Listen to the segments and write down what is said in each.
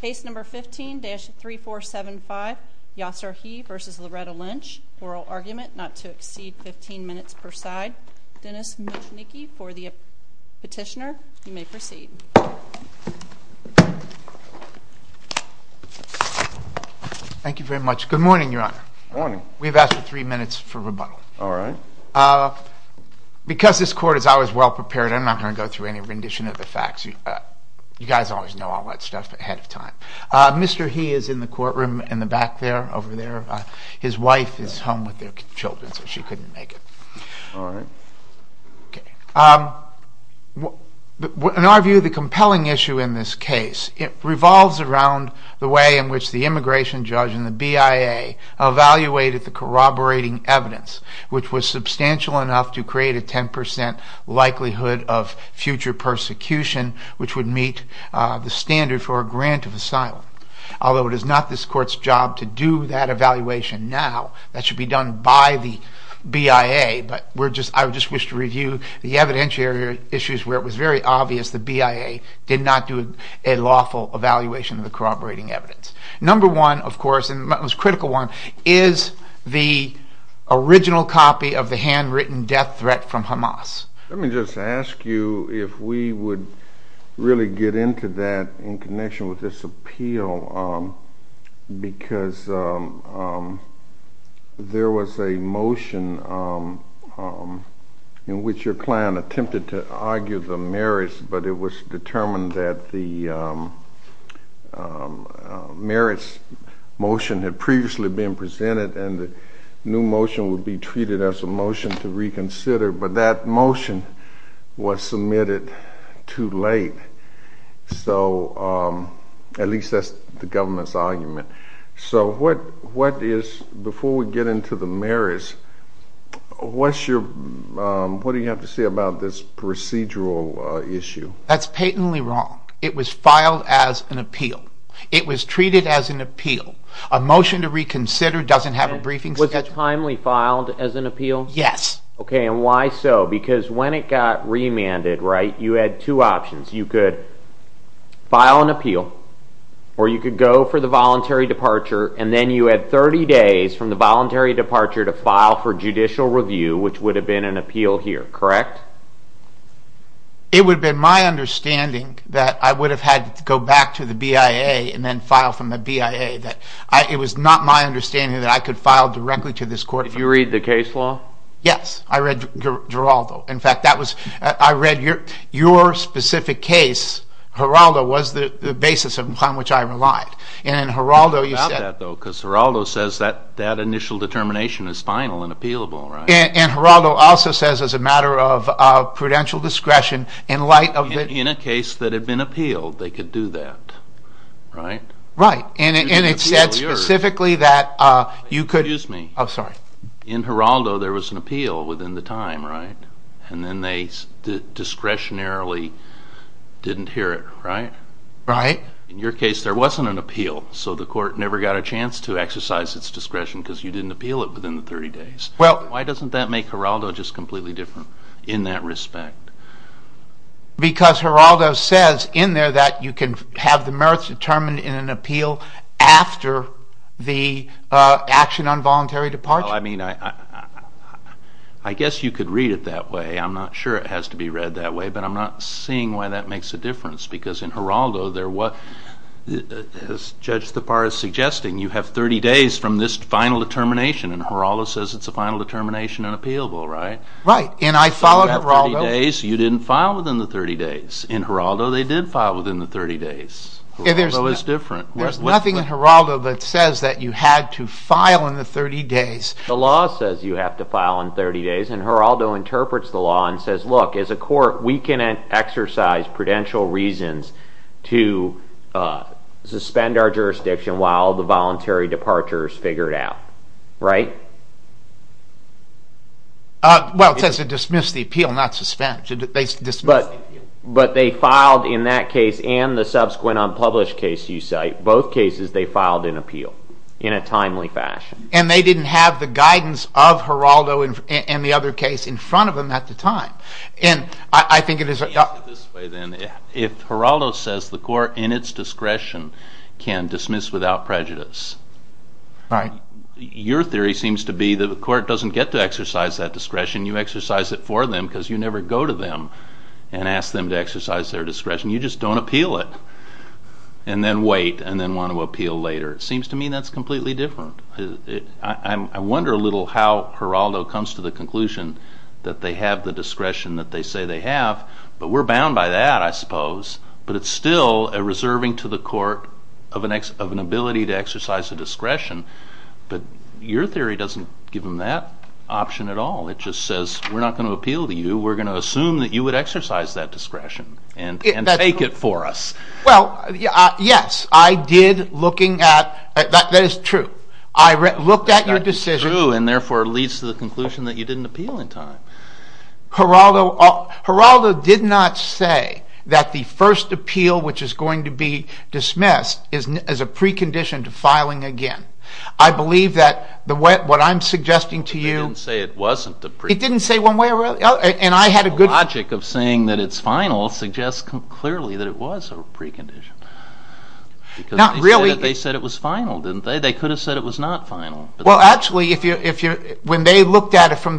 Case number 15-3475 Yasser Hih v. Loretta Lynch. Oral argument not to exceed 15 minutes per side. Dennis Michnicki for the petitioner. You may proceed. Thank you very much. Good morning, Your Honor. Morning. We've asked for three minutes for rebuttal. All right. Because this court is always well-prepared, I'm not going to go through any rendition of the facts. You guys always know all that stuff ahead of time. Mr. Hih is in the courtroom in the back there, over there. His wife is home with their children, so she couldn't make it. All right. In our view, the compelling issue in this case revolves around the way in which the immigration judge and the BIA evaluated the corroborating evidence, which was substantial enough to create a 10 percent likelihood of future persecution, which would meet the standard for a grant of asylum. Although it is not this court's job to do that evaluation now, that should be done by the BIA. But I would just wish to review the evidentiary issues where it was very obvious the BIA did not do a lawful evaluation of the corroborating evidence. Number one, of course, and the most critical one, is the original copy of the handwritten death threat from Hamas. Let me just ask you if we would really get into that in connection with this appeal, because there was a motion in which your client attempted to argue the merits, but it was determined that the merits motion had previously been presented, and the new motion would be treated as a motion to reconsider, but that motion was submitted too late. So, at least that's the government's argument. So, what is, before we get into the merits, what do you have to say about this procedural issue? That's patently wrong. It was filed as an appeal. It was treated as an appeal. A motion to reconsider doesn't have a briefing statute. Was that timely filed as an appeal? Yes. Okay, and why so? Because when it got remanded, right, you had two options. You could file an appeal, or you could go for the voluntary departure, and then you had 30 days from the voluntary departure to file for judicial review, which would have been an appeal here, correct? It would have been my understanding that I would have had to go back to the BIA and then file from the BIA. It was not my understanding that I could file directly to this court. Did you read the case law? Yes, I read Geraldo. In fact, I read your specific case, Geraldo, was the basis on which I relied. And in Geraldo you said... I love that, though, because Geraldo says that initial determination is final and appealable, right? And Geraldo also says, as a matter of prudential discretion, in light of... In a case that had been appealed, they could do that, right? Right, and it said specifically that you could... Excuse me. Oh, sorry. In Geraldo there was an appeal within the time, right? And then they discretionarily didn't hear it, right? Right. In your case there wasn't an appeal, so the court never got a chance to exercise its discretion because you didn't appeal it within the 30 days. Well... Why doesn't that make Geraldo just completely different in that respect? Because Geraldo says in there that you can have the merits determined in an appeal after the action on voluntary departure? Well, I mean, I guess you could read it that way. I'm not sure it has to be read that way, but I'm not seeing why that makes a difference, because in Geraldo there was... As Judge Thapar is suggesting, you have 30 days from this final determination, and Geraldo says it's a final determination and appealable, right? Right, and I followed Geraldo... So you have 30 days, you didn't file within the 30 days. In Geraldo they did file within the 30 days. Geraldo is different. There's nothing in Geraldo that says that you had to file in the 30 days. The law says you have to file in 30 days, and Geraldo interprets the law and says, look, as a court we can exercise prudential reasons to suspend our jurisdiction while the voluntary departure is figured out, right? Well, it says to dismiss the appeal, not suspend. But they filed in that case and the subsequent unpublished case you cite, both cases they filed in appeal in a timely fashion. And they didn't have the guidance of Geraldo and the other case in front of them at the time, and I think it is... Let me ask it this way then. If Geraldo says the court in its discretion can dismiss without prejudice, your theory seems to be that the court doesn't get to exercise that discretion. You exercise it for them because you never go to them and ask them to exercise their discretion. You just don't appeal it and then wait and then want to appeal later. It seems to me that's completely different. I wonder a little how Geraldo comes to the conclusion that they have the discretion that they say they have, but we're bound by that, I suppose, but it's still a reserving to the court of an ability to exercise a discretion. But your theory doesn't give them that option at all. It just says we're not going to appeal to you, we're going to assume that you would exercise that discretion and take it for us. Well, yes, I did looking at... That is true. I looked at your decision... That is true and therefore leads to the conclusion that you didn't appeal in time. Geraldo did not say that the first appeal, which is going to be dismissed, is a precondition to filing again. I believe that what I'm suggesting to you... He didn't say it wasn't a precondition. He didn't say one way or the other and I had a good... The logic of saying that it's final suggests clearly that it was a precondition. Not really... Because they said it was final, didn't they? They could have said it was not from the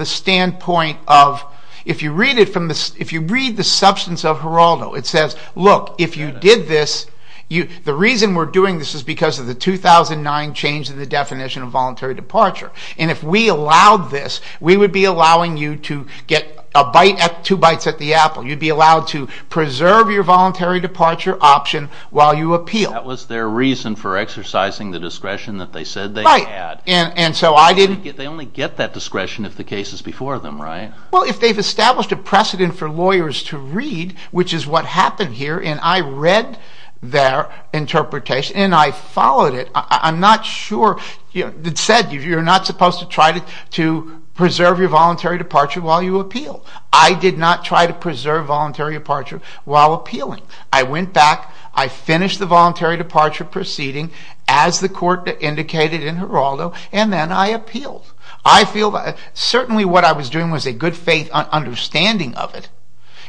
standpoint of... If you read the substance of Geraldo, it says, look, if you did this, the reason we're doing this is because of the 2009 change in the definition of voluntary departure. And if we allowed this, we would be allowing you to get a bite, two bites at the apple. You'd be allowed to preserve your voluntary departure option while you appeal. That was their reason for exercising the discretion that they said they had. And so I didn't... They only get that discretion if the case is before them, right? Well, if they've established a precedent for lawyers to read, which is what happened here, and I read their interpretation and I followed it, I'm not sure... It said you're not supposed to try to preserve your voluntary departure while you appeal. I did not try to preserve voluntary departure while appealing. I went back, I finished the voluntary departure proceeding as the court indicated in Geraldo, and then I appealed. I feel that certainly what I was doing was a good faith understanding of it.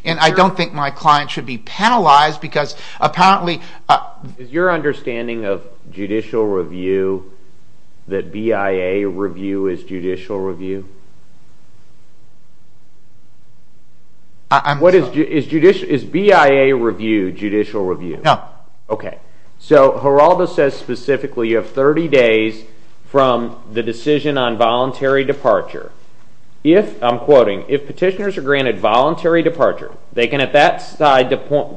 And I don't think my client should be penalized because apparently... Is your understanding of judicial review that BIA review is judicial review? I'm sorry. Is BIA review judicial review? No. Okay. So Geraldo says he's not specifically... You have 30 days from the decision on voluntary departure. If, I'm quoting, if petitioners are granted voluntary departure, they can at that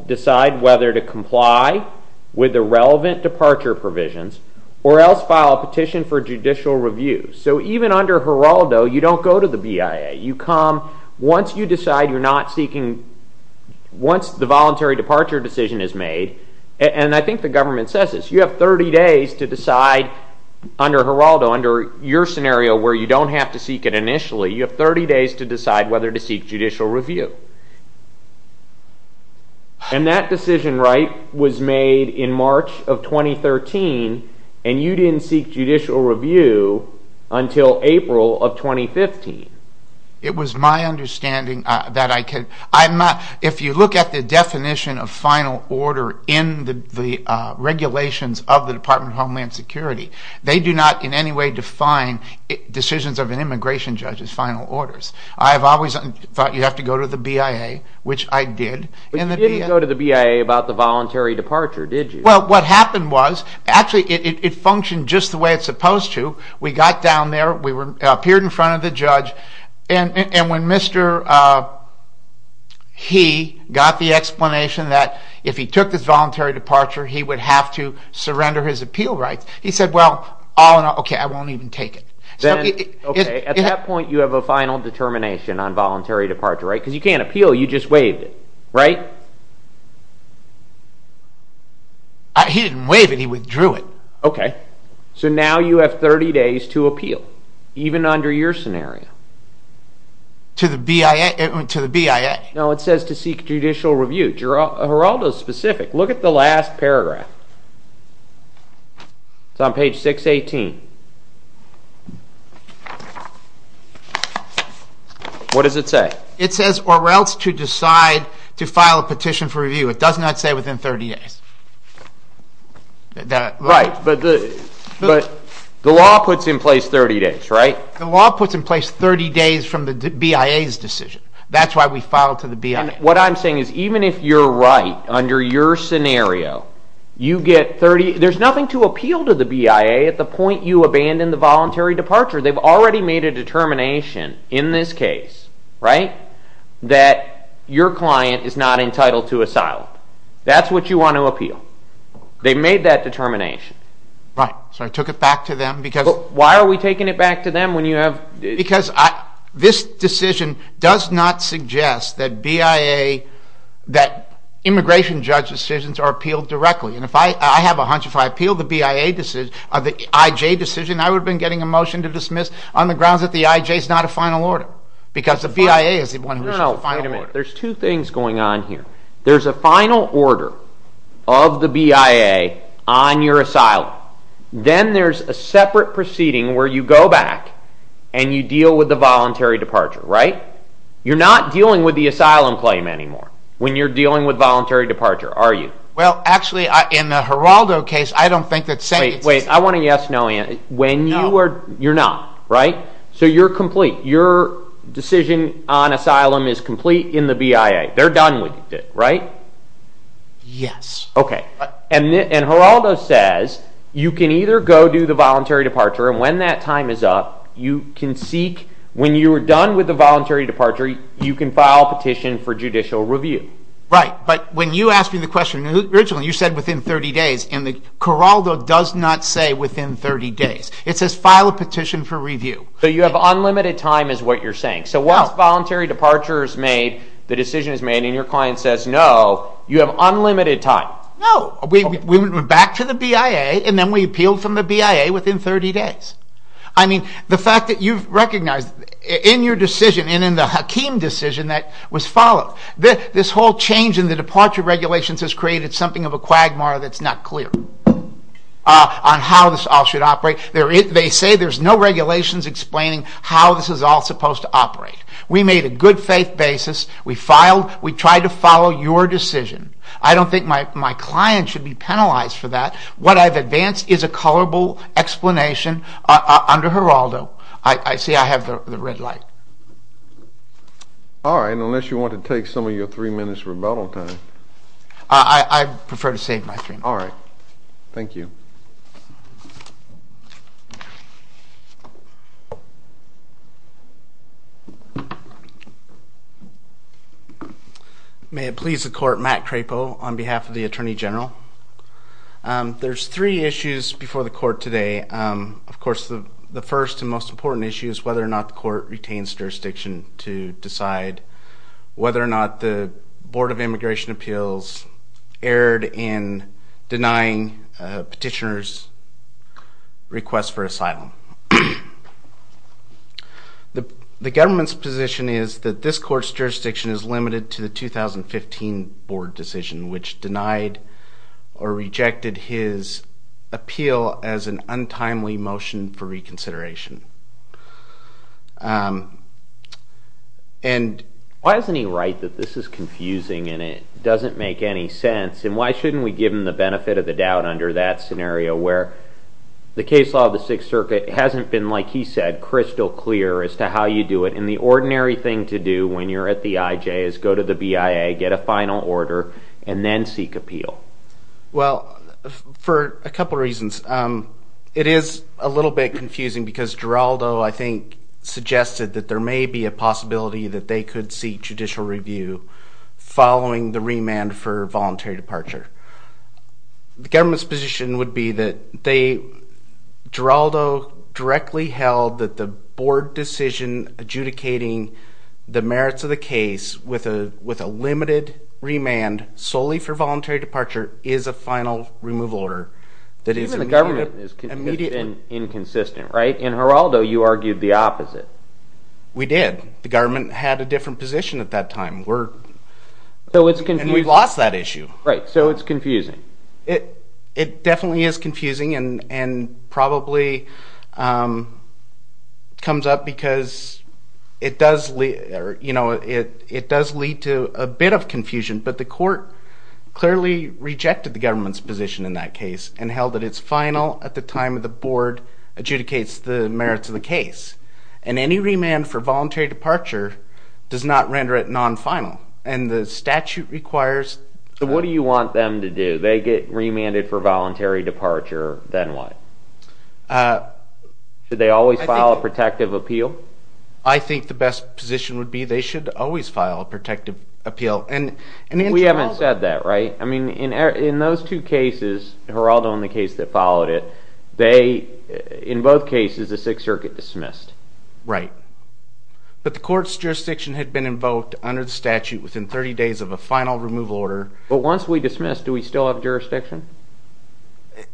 decide whether to comply with the relevant departure provisions or else file a petition for judicial review. So even under Geraldo, you don't go to the BIA. You come once you decide you're not seeking... Once the voluntary departure decision is made, and I think the government says this, you have 30 days to decide under Geraldo, under your scenario where you don't have to seek it initially, you have 30 days to decide whether to seek judicial review. And that decision right was made in March of 2013, and you didn't seek judicial review until April of 2015. It was my understanding that I could... If you look at the definition of final order in the regulations of the Department of Homeland Security, they do not in any way define decisions of an immigration judge as final orders. I have always thought you have to go to the BIA, which I did. But you didn't go to the BIA about the voluntary departure, did you? Well, what happened was, actually it functioned just the way it's supposed to. We got down there, we appeared in front of the judge, and when Mr. He got the explanation that if he took this voluntary departure, he would have to surrender his appeal rights, he said, well, all in all, okay, I won't even take it. Then, okay, at that point you have a final determination on voluntary departure, right? Because you can't appeal, you just waived it, right? He didn't waive it, he withdrew it. Okay. So now you have 30 days to appeal, even under your scenario. To the BIA? To the BIA. No, it says to seek judicial review. Geraldo's specific. Look at the last paragraph. It's on page 618. What does it say? It says, or else to decide to file a petition for review. It does not say within 30 days. Right, but the law puts in place 30 days, right? The law puts in place 30 days from the BIA's decision. That's why we filed to the BIA. What I'm saying is, even if you're right, under your scenario, you get 30, there's nothing to appeal to the BIA at the point you abandon the voluntary departure. They've already made a determination in this case, right, that your client is not entitled to asylum. That's what you want to appeal. They made that determination. Right, so I took it back to them. Why are we taking it back to them when you have... Because this decision does not suggest that BIA, that immigration judge decisions are appealed directly. And if I have a hunch, if I appeal the BIA decision, the IJ decision, I would have been getting a motion to dismiss on the grounds that the IJ is not a final order. Because the BIA is the one who's the final order. No, no, wait a minute. There's two things going on here. There's a final order of the law. Then there's a separate proceeding where you go back and you deal with the voluntary departure, right? You're not dealing with the asylum claim anymore when you're dealing with voluntary departure, are you? Well, actually, in the Geraldo case, I don't think that's... Wait, wait, I want a yes, no answer. You're not, right? So you're complete. Your decision on asylum is complete in the BIA. They're done with it, right? Yes. Okay. And Geraldo says you can either go do the voluntary departure, and when that time is up, you can seek, when you are done with the voluntary departure, you can file a petition for judicial review. Right. But when you asked me the question, originally you said within 30 days. And the Geraldo does not say within 30 days. It says file a petition for review. So you have unlimited time is what you're saying. So once voluntary departure is made, the decision is made, and your client says no, you have unlimited time. No. We went back to the BIA, and then we appealed from the BIA within 30 days. I mean, the fact that you've recognized in your decision, and in the Hakim decision that was followed, this whole change in the departure regulations has created something of a quagmire that's not clear on how this all should operate. They say there's no regulations explaining how this is all supposed to operate. We made a good faith basis. We filed. We tried to follow your decision. I don't think my client should be penalized for that. What I've advanced is a colorable explanation under Geraldo. See, I have the red light. All right. Unless you want to take some of your three minutes rebuttal time. I prefer to save my three minutes. All right. Thank you. May it please the court, Matt Crapo on behalf of the Attorney General. There's three issues before the court today. Of course, the first and most important issue is whether or not the court retains jurisdiction to decide whether or not the Board of Immigration Appeals erred in denying petitioner's request for asylum. The government's position is that this court's jurisdiction is limited to the 2015 board decision, which denied or rejected his appeal as an untimely motion for reconsideration. Why doesn't he write that this is confusing and it doesn't make any sense, and why should we give him the benefit of the doubt under that scenario where the case law of the Sixth Circuit hasn't been, like he said, crystal clear as to how you do it. The ordinary thing to do when you're at the IJ is go to the BIA, get a final order, and then seek appeal. For a couple of reasons. It is a little bit confusing because Geraldo, I think, suggested that there may be a possibility that they could seek judicial review following the remand for voluntary departure. The government's position would be that they, Geraldo, directly held that the board decision adjudicating the merits of the case with a limited remand solely for voluntary departure is a final removal order. Even the government has been inconsistent, right? In Geraldo, you argued the opposite. We did. The government had a different position at that time. We've lost that issue. Right, so it's confusing. It definitely is confusing and probably comes up because it does lead to a bit of confusion, but the court clearly rejected the government's position in that case and held that it's final at the time the board adjudicates the merits of the case. Any remand for voluntary departure does not render it non-final. What do you want them to do? They get remanded for voluntary departure, then what? Should they always file a protective appeal? I think the best position would be they should always file a protective appeal. We haven't said that, right? In those two cases, Geraldo and the case that followed it, in both cases the Sixth Circuit dismissed. Right, but the court's jurisdiction had been invoked under the statute within 30 days of a final removal order. But once we dismiss, do we still have jurisdiction?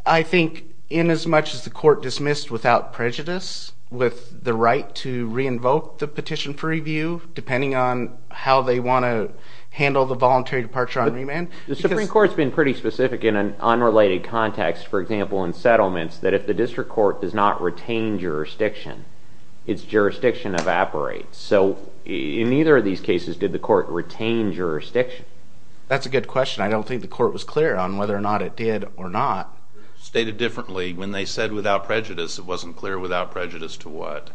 I think in as much as the court dismissed without prejudice, with the right to re-invoke the petition for review, depending on how they want to handle the voluntary departure on remand. The Supreme Court's been pretty specific in an unrelated context, for example in settlements, that if the district court does not retain jurisdiction, its jurisdiction evaporates. So in either of these cases, did the court retain jurisdiction? That's a good question. I don't think the court was clear on whether or not it did or not. Stated differently, when they said without prejudice, it wasn't clear without prejudice to what?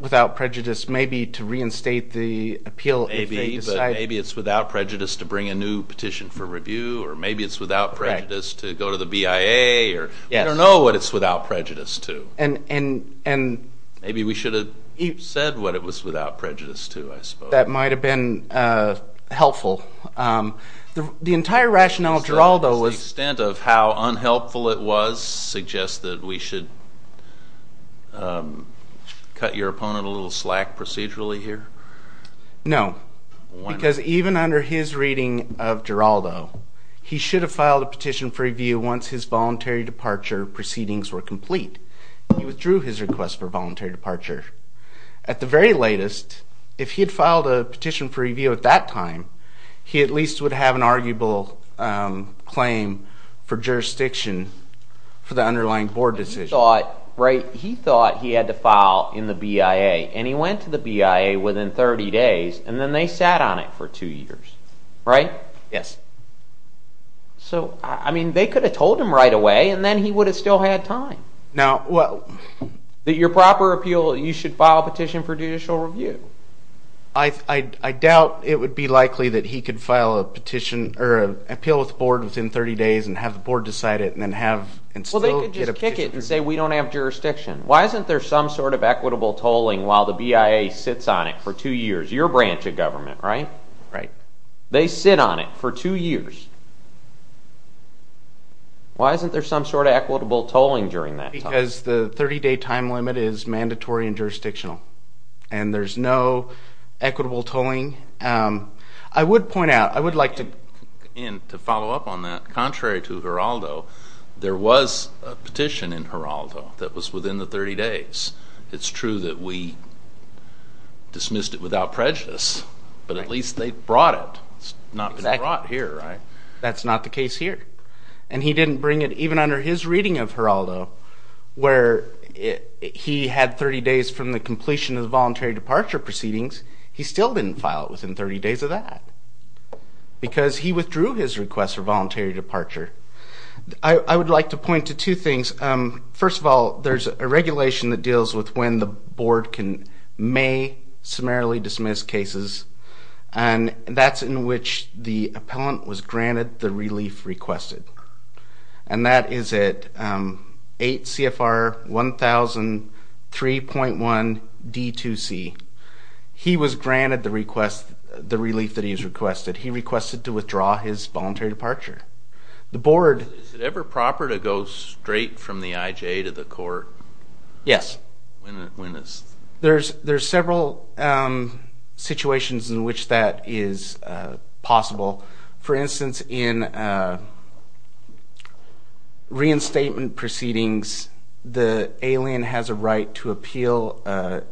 Without prejudice, maybe to reinstate the appeal if they decided. Maybe it's without prejudice to bring a new petition for review, or maybe it's without prejudice to go to the BIA, or we don't know what it's without prejudice to. Maybe we should have said what it was without prejudice to, I suppose. That might have been helpful. The entire rationale of Geraldo was... Cut your opponent a little slack procedurally here? No. Because even under his reading of Geraldo, he should have filed a petition for review once his voluntary departure proceedings were complete. He withdrew his request for voluntary departure. At the very latest, if he had filed a petition for review at that time, he at least would have an arguable claim for jurisdiction for the underlying board decision. He thought he had to file in the BIA, and he went to the BIA within 30 days, and then they sat on it for two years. So they could have told him right away, and then he would have still had time. Your proper appeal, you should file a petition for judicial review. I doubt it would be likely that he could file a petition, or appeal with the board within 30 days, and have the board decide it, and still get a petition. Well, they could just kick it and say, we don't have jurisdiction. Why isn't there some sort of equitable tolling while the BIA sits on it for two years? Your branch of government, right? They sit on it for two years. Why isn't there some sort of equitable tolling during that time? Because the 30-day time limit is mandatory and jurisdictional, and there's no equitable tolling. I would point out, I would like to... Contrary to Geraldo, there was a petition in Geraldo that was within the 30 days. It's true that we dismissed it without prejudice, but at least they brought it. It's not been brought here, right? That's not the case here. And he didn't bring it, even under his reading of Geraldo, where he had 30 days from the completion of the voluntary departure proceedings, he still didn't file it within 30 days of that. Because he withdrew his request for voluntary departure. I would like to point to two things. First of all, there's a regulation that deals with when the board can may summarily dismiss cases, and that's in which the appellant was granted the relief requested. And that is at 8 CFR 1000 3.1 D2C. He was granted the relief that he has requested. He requested to withdraw his voluntary departure. The board... Is it ever proper to go straight from the IJ to the court? Yes. When is... There's several situations in which that is possible. For instance, in reinstatement proceedings, the alien has a right to appeal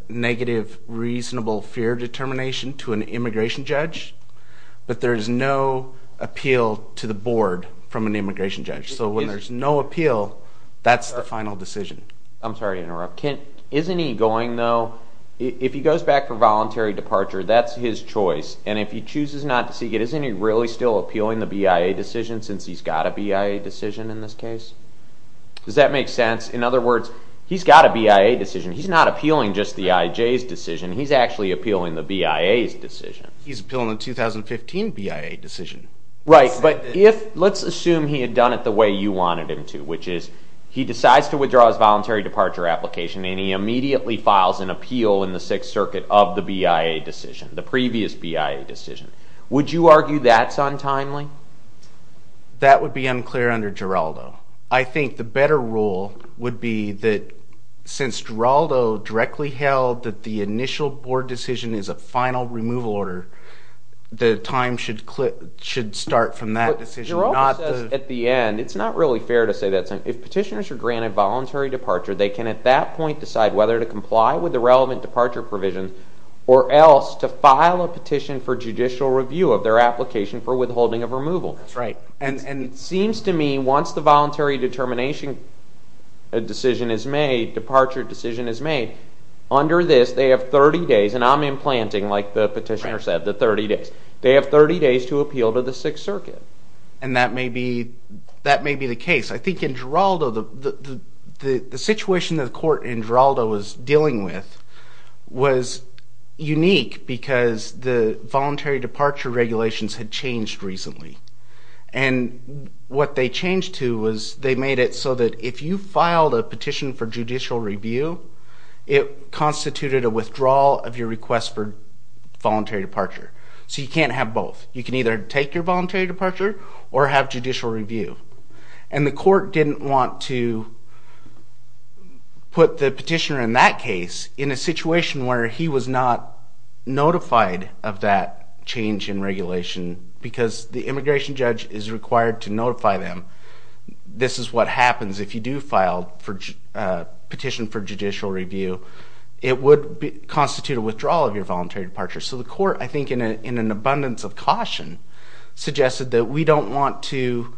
negative reasonable fear determination to an immigration judge, but there's no appeal to the board from an immigration judge. So when there's no appeal, that's the final decision. I'm sorry to interrupt. Isn't he going, though... If he goes back for voluntary departure, that's his choice. And if he chooses not to seek it, isn't he really still appealing the BIA decision, since he's got a BIA decision in this case? Does that make sense? In other words, he's got a BIA decision. He's not appealing just the IJ's decision. He's actually appealing the BIA's decision. He's appealing the 2015 BIA decision. Right. But if... Let's assume he had done it the way you wanted him to, which is he decides to withdraw his voluntary departure application and he immediately files an appeal in the Sixth Circuit of the BIA decision, the previous BIA decision. Would you argue that's untimely? That would be unclear under Geraldo. I think the better rule would be that since Geraldo directly held that the initial board decision is a final removal order, the time should start from that decision, not the... At the end, it's not really fair to say that. If petitioners are granted voluntary departure, they can at that point decide whether to comply with the relevant departure provision or else to file a petition for judicial review of their application for withholding of removal. That's right. And it seems to me once the voluntary determination decision is made, departure decision is made, under this, they have 30 days, and I'm implanting, like the petitioner said, the 30 days. They have 30 days to appeal to the Sixth Circuit. And that may be the case. I think in Geraldo, the situation that the court in Geraldo was dealing with was unique because the voluntary departure regulations had changed recently. And what they changed to was they made it so that if you filed a petition for judicial review, it constituted a withdrawal of your request for voluntary departure. So you can't have both. You can either take your voluntary departure or have judicial review. And the court didn't want to put the petitioner in that case in a situation where he was not notified of that change in regulation because the immigration judge is required to notify them. This is what happens if you do file a petition for judicial review. It would constitute a withdrawal of your voluntary departure. So the court, I think in an abundance of caution, suggested that we don't want to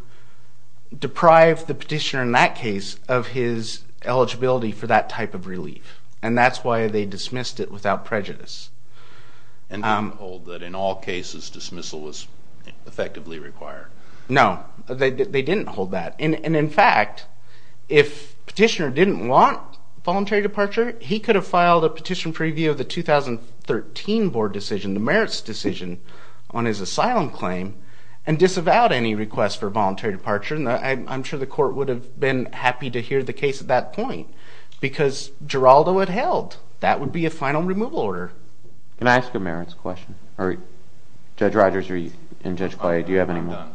deprive the petitioner in that case of his eligibility for that type of relief. And that's why they dismissed it without prejudice. And they didn't hold that in all cases dismissal was effectively required. No, they didn't hold that. And in fact, if petitioner didn't want voluntary departure, he could have filed a petition for review of the 2013 board decision, the merits decision, on his asylum claim and disavowed any request for voluntary departure. And I'm sure the court would have been happy to hear the case at that point because Geraldo had held. That would be a final removal order. Can I ask a merits question? Judge Rogers and Judge Collier, do you have any more?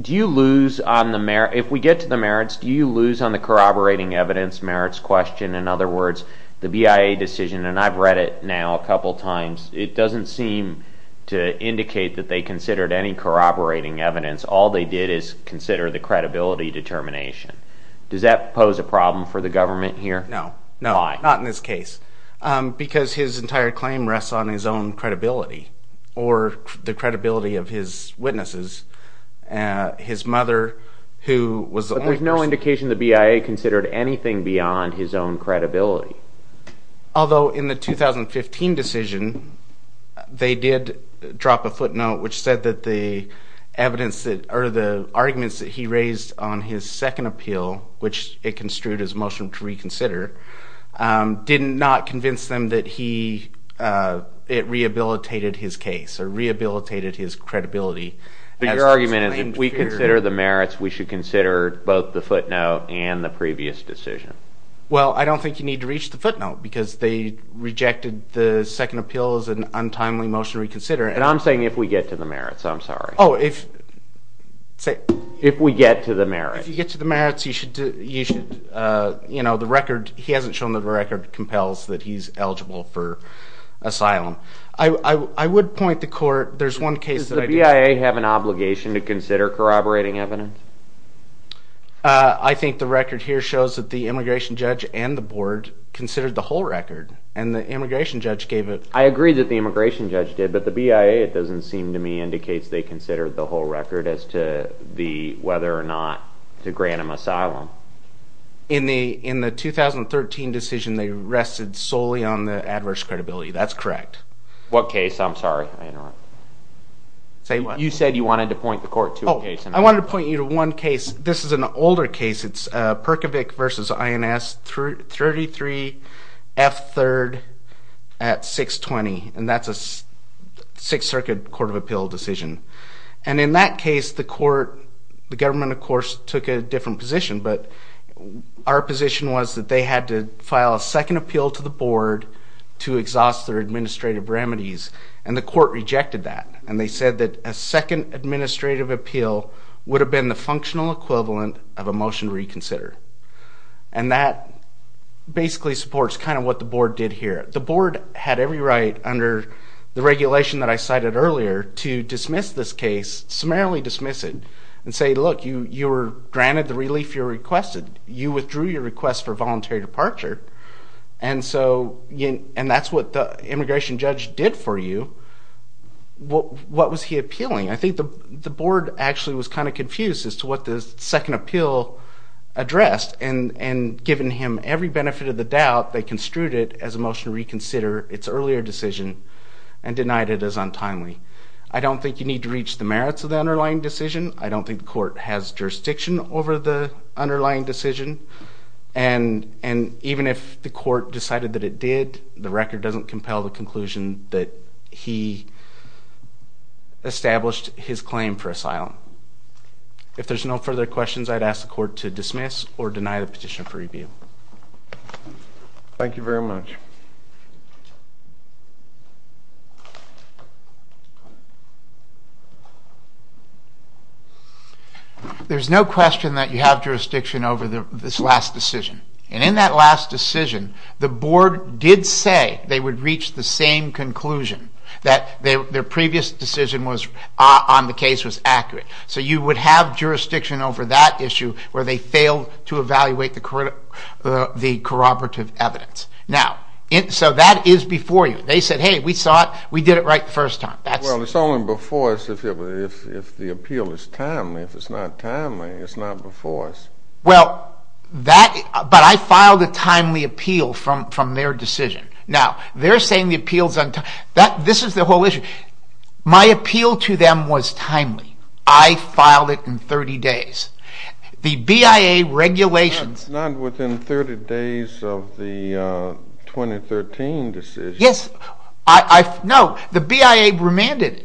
Do you lose on the merits? If we get to the merits, do you lose on the corroborating evidence merits question? In other words, the BIA decision, and I've read it now a couple times, it doesn't seem to indicate that they considered any corroborating evidence. All they did is consider the credibility determination. Does that pose a problem for the government here? No. Not in this case. Because his entire claim rests on his own credibility or the credibility of his witnesses. His mother, who was the only person. But there's no indication the BIA considered anything beyond his own credibility. Although in the 2015 decision, they did drop a footnote, which said that the arguments that he raised on his second appeal, which it construed as a motion to reconsider, did not convince them that it rehabilitated his case or rehabilitated his credibility. But your argument is if we consider the merits, we should consider both the footnote and the previous decision. Well, I don't think you need to reach the footnote. Because they rejected the second appeal as an untimely motion to reconsider. And I'm saying if we get to the merits. I'm sorry. Oh, if. If we get to the merits. If you get to the merits, you should. He hasn't shown that the record compels that he's eligible for asylum. I would point the court. There's one case that I did. Does the BIA have an obligation to consider corroborating evidence? I think the record here shows that the immigration judge and the board considered the whole record. And the immigration judge gave it. I agree that the immigration judge did. But the BIA, it doesn't seem to me, indicates they considered the whole record as to whether or not to grant him asylum. In the 2013 decision, they rested solely on the adverse credibility. That's correct. What case? I'm sorry. I interrupted. You said you wanted to point the court to a case. I wanted to point you to one case. This is an older case. It's Perkovic versus INS 33F3rd at 620. And that's a Sixth Circuit Court of Appeal decision. And in that case, the government, of course, took a different position. But our position was that they had to file a second appeal to the board to exhaust their administrative remedies. And the court rejected that. And they said that a second administrative appeal would have been the functional equivalent of a motion reconsider. And that basically supports kind of what the board did here. The board had every right under the regulation that I cited earlier to dismiss this case, summarily dismiss it, and say, look, you were granted the relief you requested. You withdrew your request for voluntary departure. And that's what the immigration judge did for you. What was he appealing? I think the board actually was kind of confused as to what the second appeal addressed. And given him every benefit of the doubt, they construed it as a motion to reconsider its earlier decision and denied it as untimely. I don't think you need to reach the merits of the underlying decision. I don't think the court has jurisdiction over the underlying decision. And even if the court decided that it did, the record doesn't compel the conclusion that he established his claim for asylum. If there's no further questions, I'd ask the court to dismiss or deny the petition for review. Thank you very much. There's no question that you have jurisdiction over this last decision. And in that last decision, the board did say they would reach the same conclusion, that their previous decision on the case was accurate. So you would have jurisdiction over that issue where they failed to evaluate the corroborative evidence. So that is before you. They said, hey, we saw it. We did it right the first time. Well, it's only before us if the appeal is timely. If it's not timely, it's not before us. But I filed a timely appeal from their decision. Now, they're saying the appeal's untimely. This is the whole issue. My appeal to them was timely. I filed it in 30 days. The BIA regulations. Not within 30 days of the 2013 decision. Yes. No, the BIA remanded it.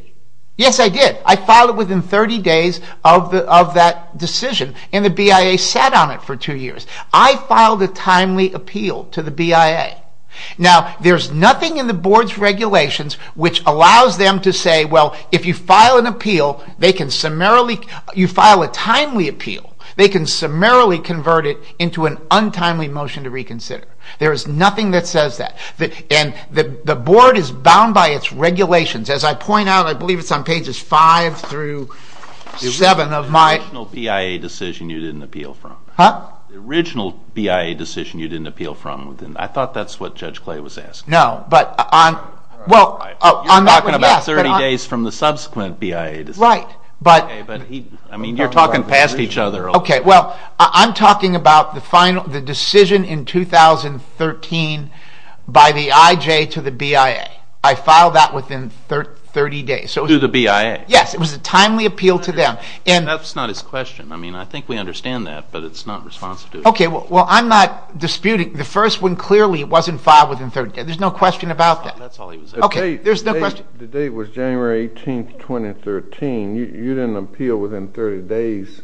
Yes, I did. I filed it within 30 days of that decision. And the BIA sat on it for two years. I filed a timely appeal to the BIA. Now, there's nothing in the board's regulations which allows them to say, well, if you file an appeal, they can summarily, you file a timely appeal, they can summarily convert it into an untimely motion to reconsider. There is nothing that says that. And the board is bound by its regulations. As I point out, I believe it's on pages 5 through 7 of my. The original BIA decision you didn't appeal from. Huh? The original BIA decision you didn't appeal from. I thought that's what Judge Clay was asking. No, but on, well, on that one, yeah. You're talking about 30 days from the subsequent BIA decision. That's right. OK, but he, I mean, you're talking past each other. OK, well, I'm talking about the decision in 2013 by the IJ to the BIA. I filed that within 30 days. To the BIA? Yes, it was a timely appeal to them. And that's not his question. I mean, I think we understand that, but it's not responsive to it. OK, well, I'm not disputing. The first one clearly wasn't filed within 30 days. There's no question about that. That's all he was asking. OK, there's no question. The date was January 18, 2013. You didn't appeal within 30 days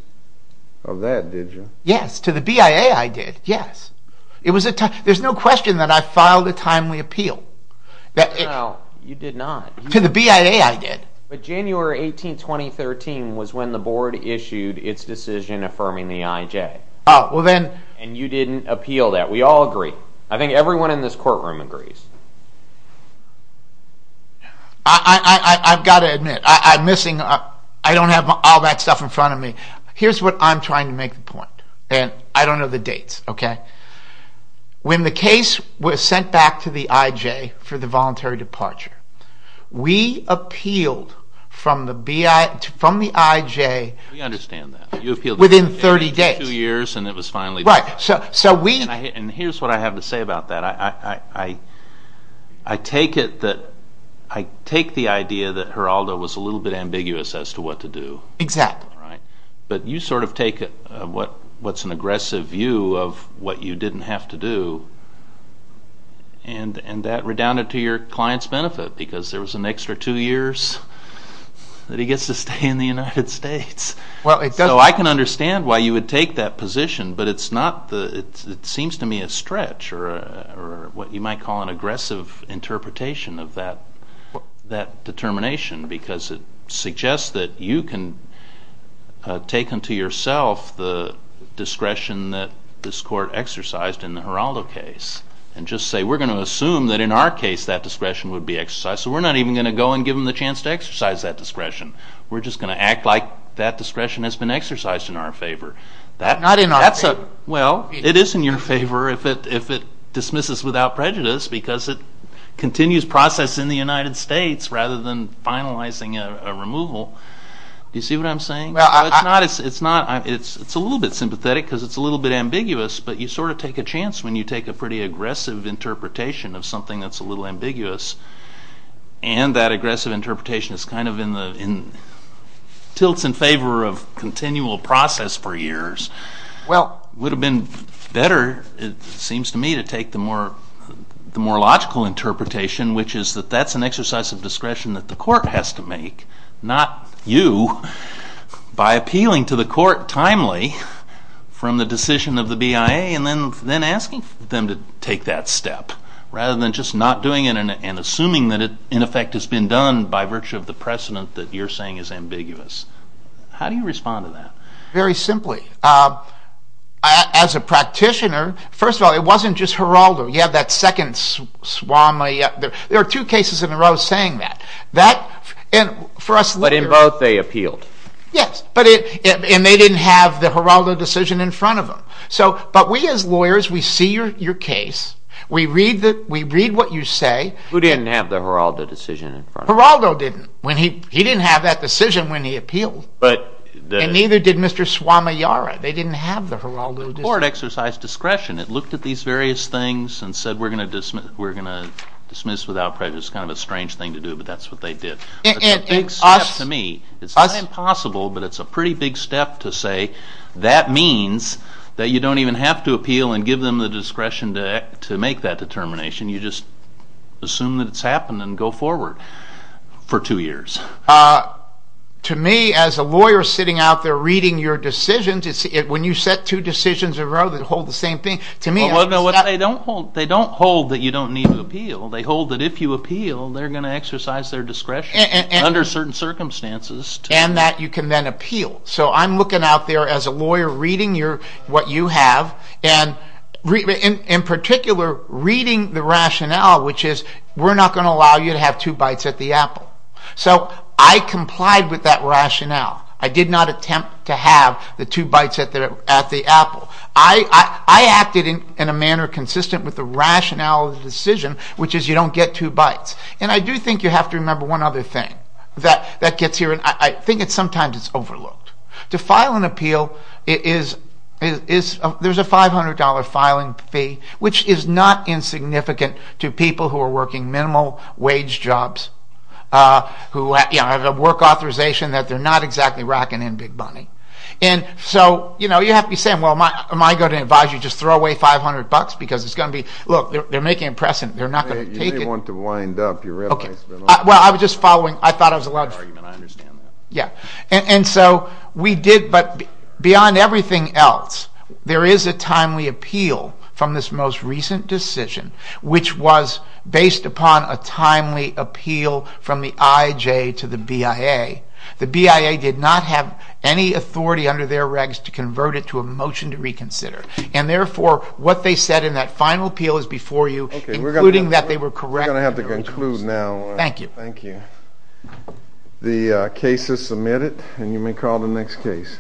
of that, did you? Yes, to the BIA I did, yes. There's no question that I filed a timely appeal. You did not. To the BIA I did. But January 18, 2013 was when the board issued its decision affirming the IJ. Oh, well then. And you didn't appeal that. We all agree. I think everyone in this courtroom agrees. I've got to admit, I don't have all that stuff in front of me. Here's what I'm trying to make the point. And I don't know the dates, OK? When the case was sent back to the IJ for the voluntary departure, we appealed from the IJ We understand that. You appealed within 30 days. Within 30 days, two years, and it was finally done. And here's what I have to say about that. I take it that, I take the idea that Geraldo was a little bit ambiguous as to what to do. Exactly. But you sort of take what's an aggressive view of what you didn't have to do, and that redounded to your client's benefit, because there was an extra two years that he gets to stay in the United States. So I can understand why you would take that position, but it seems to me a stretch, or what you might call an aggressive interpretation of that determination. Because it suggests that you can take unto yourself the discretion that this court exercised in the Geraldo case, and just say, we're going to assume that in our case that discretion would be exercised. So we're not even going to go and give them the chance to exercise that discretion. We're just going to act like that discretion has been exercised in our favor. Not in our favor. Well, it is in your favor if it dismisses without prejudice, because it continues process in the United States, rather than finalizing a removal. You see what I'm saying? It's a little bit sympathetic, because it's a little bit ambiguous. But you sort of take a chance when you take a pretty aggressive interpretation of something that's a little ambiguous. And that aggressive interpretation is kind of in tilts in favor of continual process for years. Well, it would have been better, it seems to me, to take the more logical interpretation, which is that that's an exercise of discretion that the court has to make, not you, by appealing to the court timely from the decision of the BIA, and then asking them to take that step, rather than just not doing it and assuming that it, in effect, has been done by virtue of the precedent that you're saying is ambiguous. How do you respond to that? Very simply. As a practitioner, first of all, it wasn't just Geraldo. You have that second swami. There are two cases in a row saying that. But in both, they appealed. Yes, and they didn't have the Geraldo decision in front of them. But we as lawyers, we see your case. We read what you say. Who didn't have the Geraldo decision in front of them? Geraldo didn't. He didn't have that decision when he appealed. And neither did Mr. Swamijara. They didn't have the Geraldo decision. The court exercised discretion. It looked at these various things and said we're going to dismiss without prejudice. It's kind of a strange thing to do, but that's what they did. It's a big step to me. It's not impossible, but it's a pretty big step to say that means that you don't even have to appeal and give them the discretion to make that determination. You just assume that it's happened and go forward for two years. To me, as a lawyer sitting out there reading your decisions, when you set two decisions in a row that hold the same thing, to me, I'm just not. They don't hold that you don't need to appeal. They hold that if you appeal, they're going to exercise their discretion under certain circumstances. And that you can then appeal. So I'm looking out there as a lawyer reading what you have. And in particular, reading the rationale, which is we're not going to allow you to have two bites at the apple. So I complied with that rationale. I did not attempt to have the two bites at the apple. I acted in a manner consistent with the rationale of the decision, which is you don't get two bites. And I do think you have to remember one other thing that gets here, and I think sometimes it's overlooked. To file an appeal, there's a $500 filing fee, which is not insignificant to people who are working minimal wage jobs, who have a work authorization that they're not exactly racking in big money. And so you have to be saying, well, am I going to advise you to just throw away $500? Because it's going to be, look, they're making a precedent. They're not going to take it. You may want to wind up your replacement on that. Well, I was just following. I thought I was allowed to. That's a fair argument. I understand that. Yeah. And so we did, but beyond everything else, there is a timely appeal from this most recent decision, which was based upon a timely appeal from the IJ to the BIA. The BIA did not have any authority under their regs to convert it to a motion to reconsider. And therefore, what they said in that final appeal is before you, including that they were correct. We're going to have to conclude now. Thank you. Thank you. The case is submitted, and you may call the next case.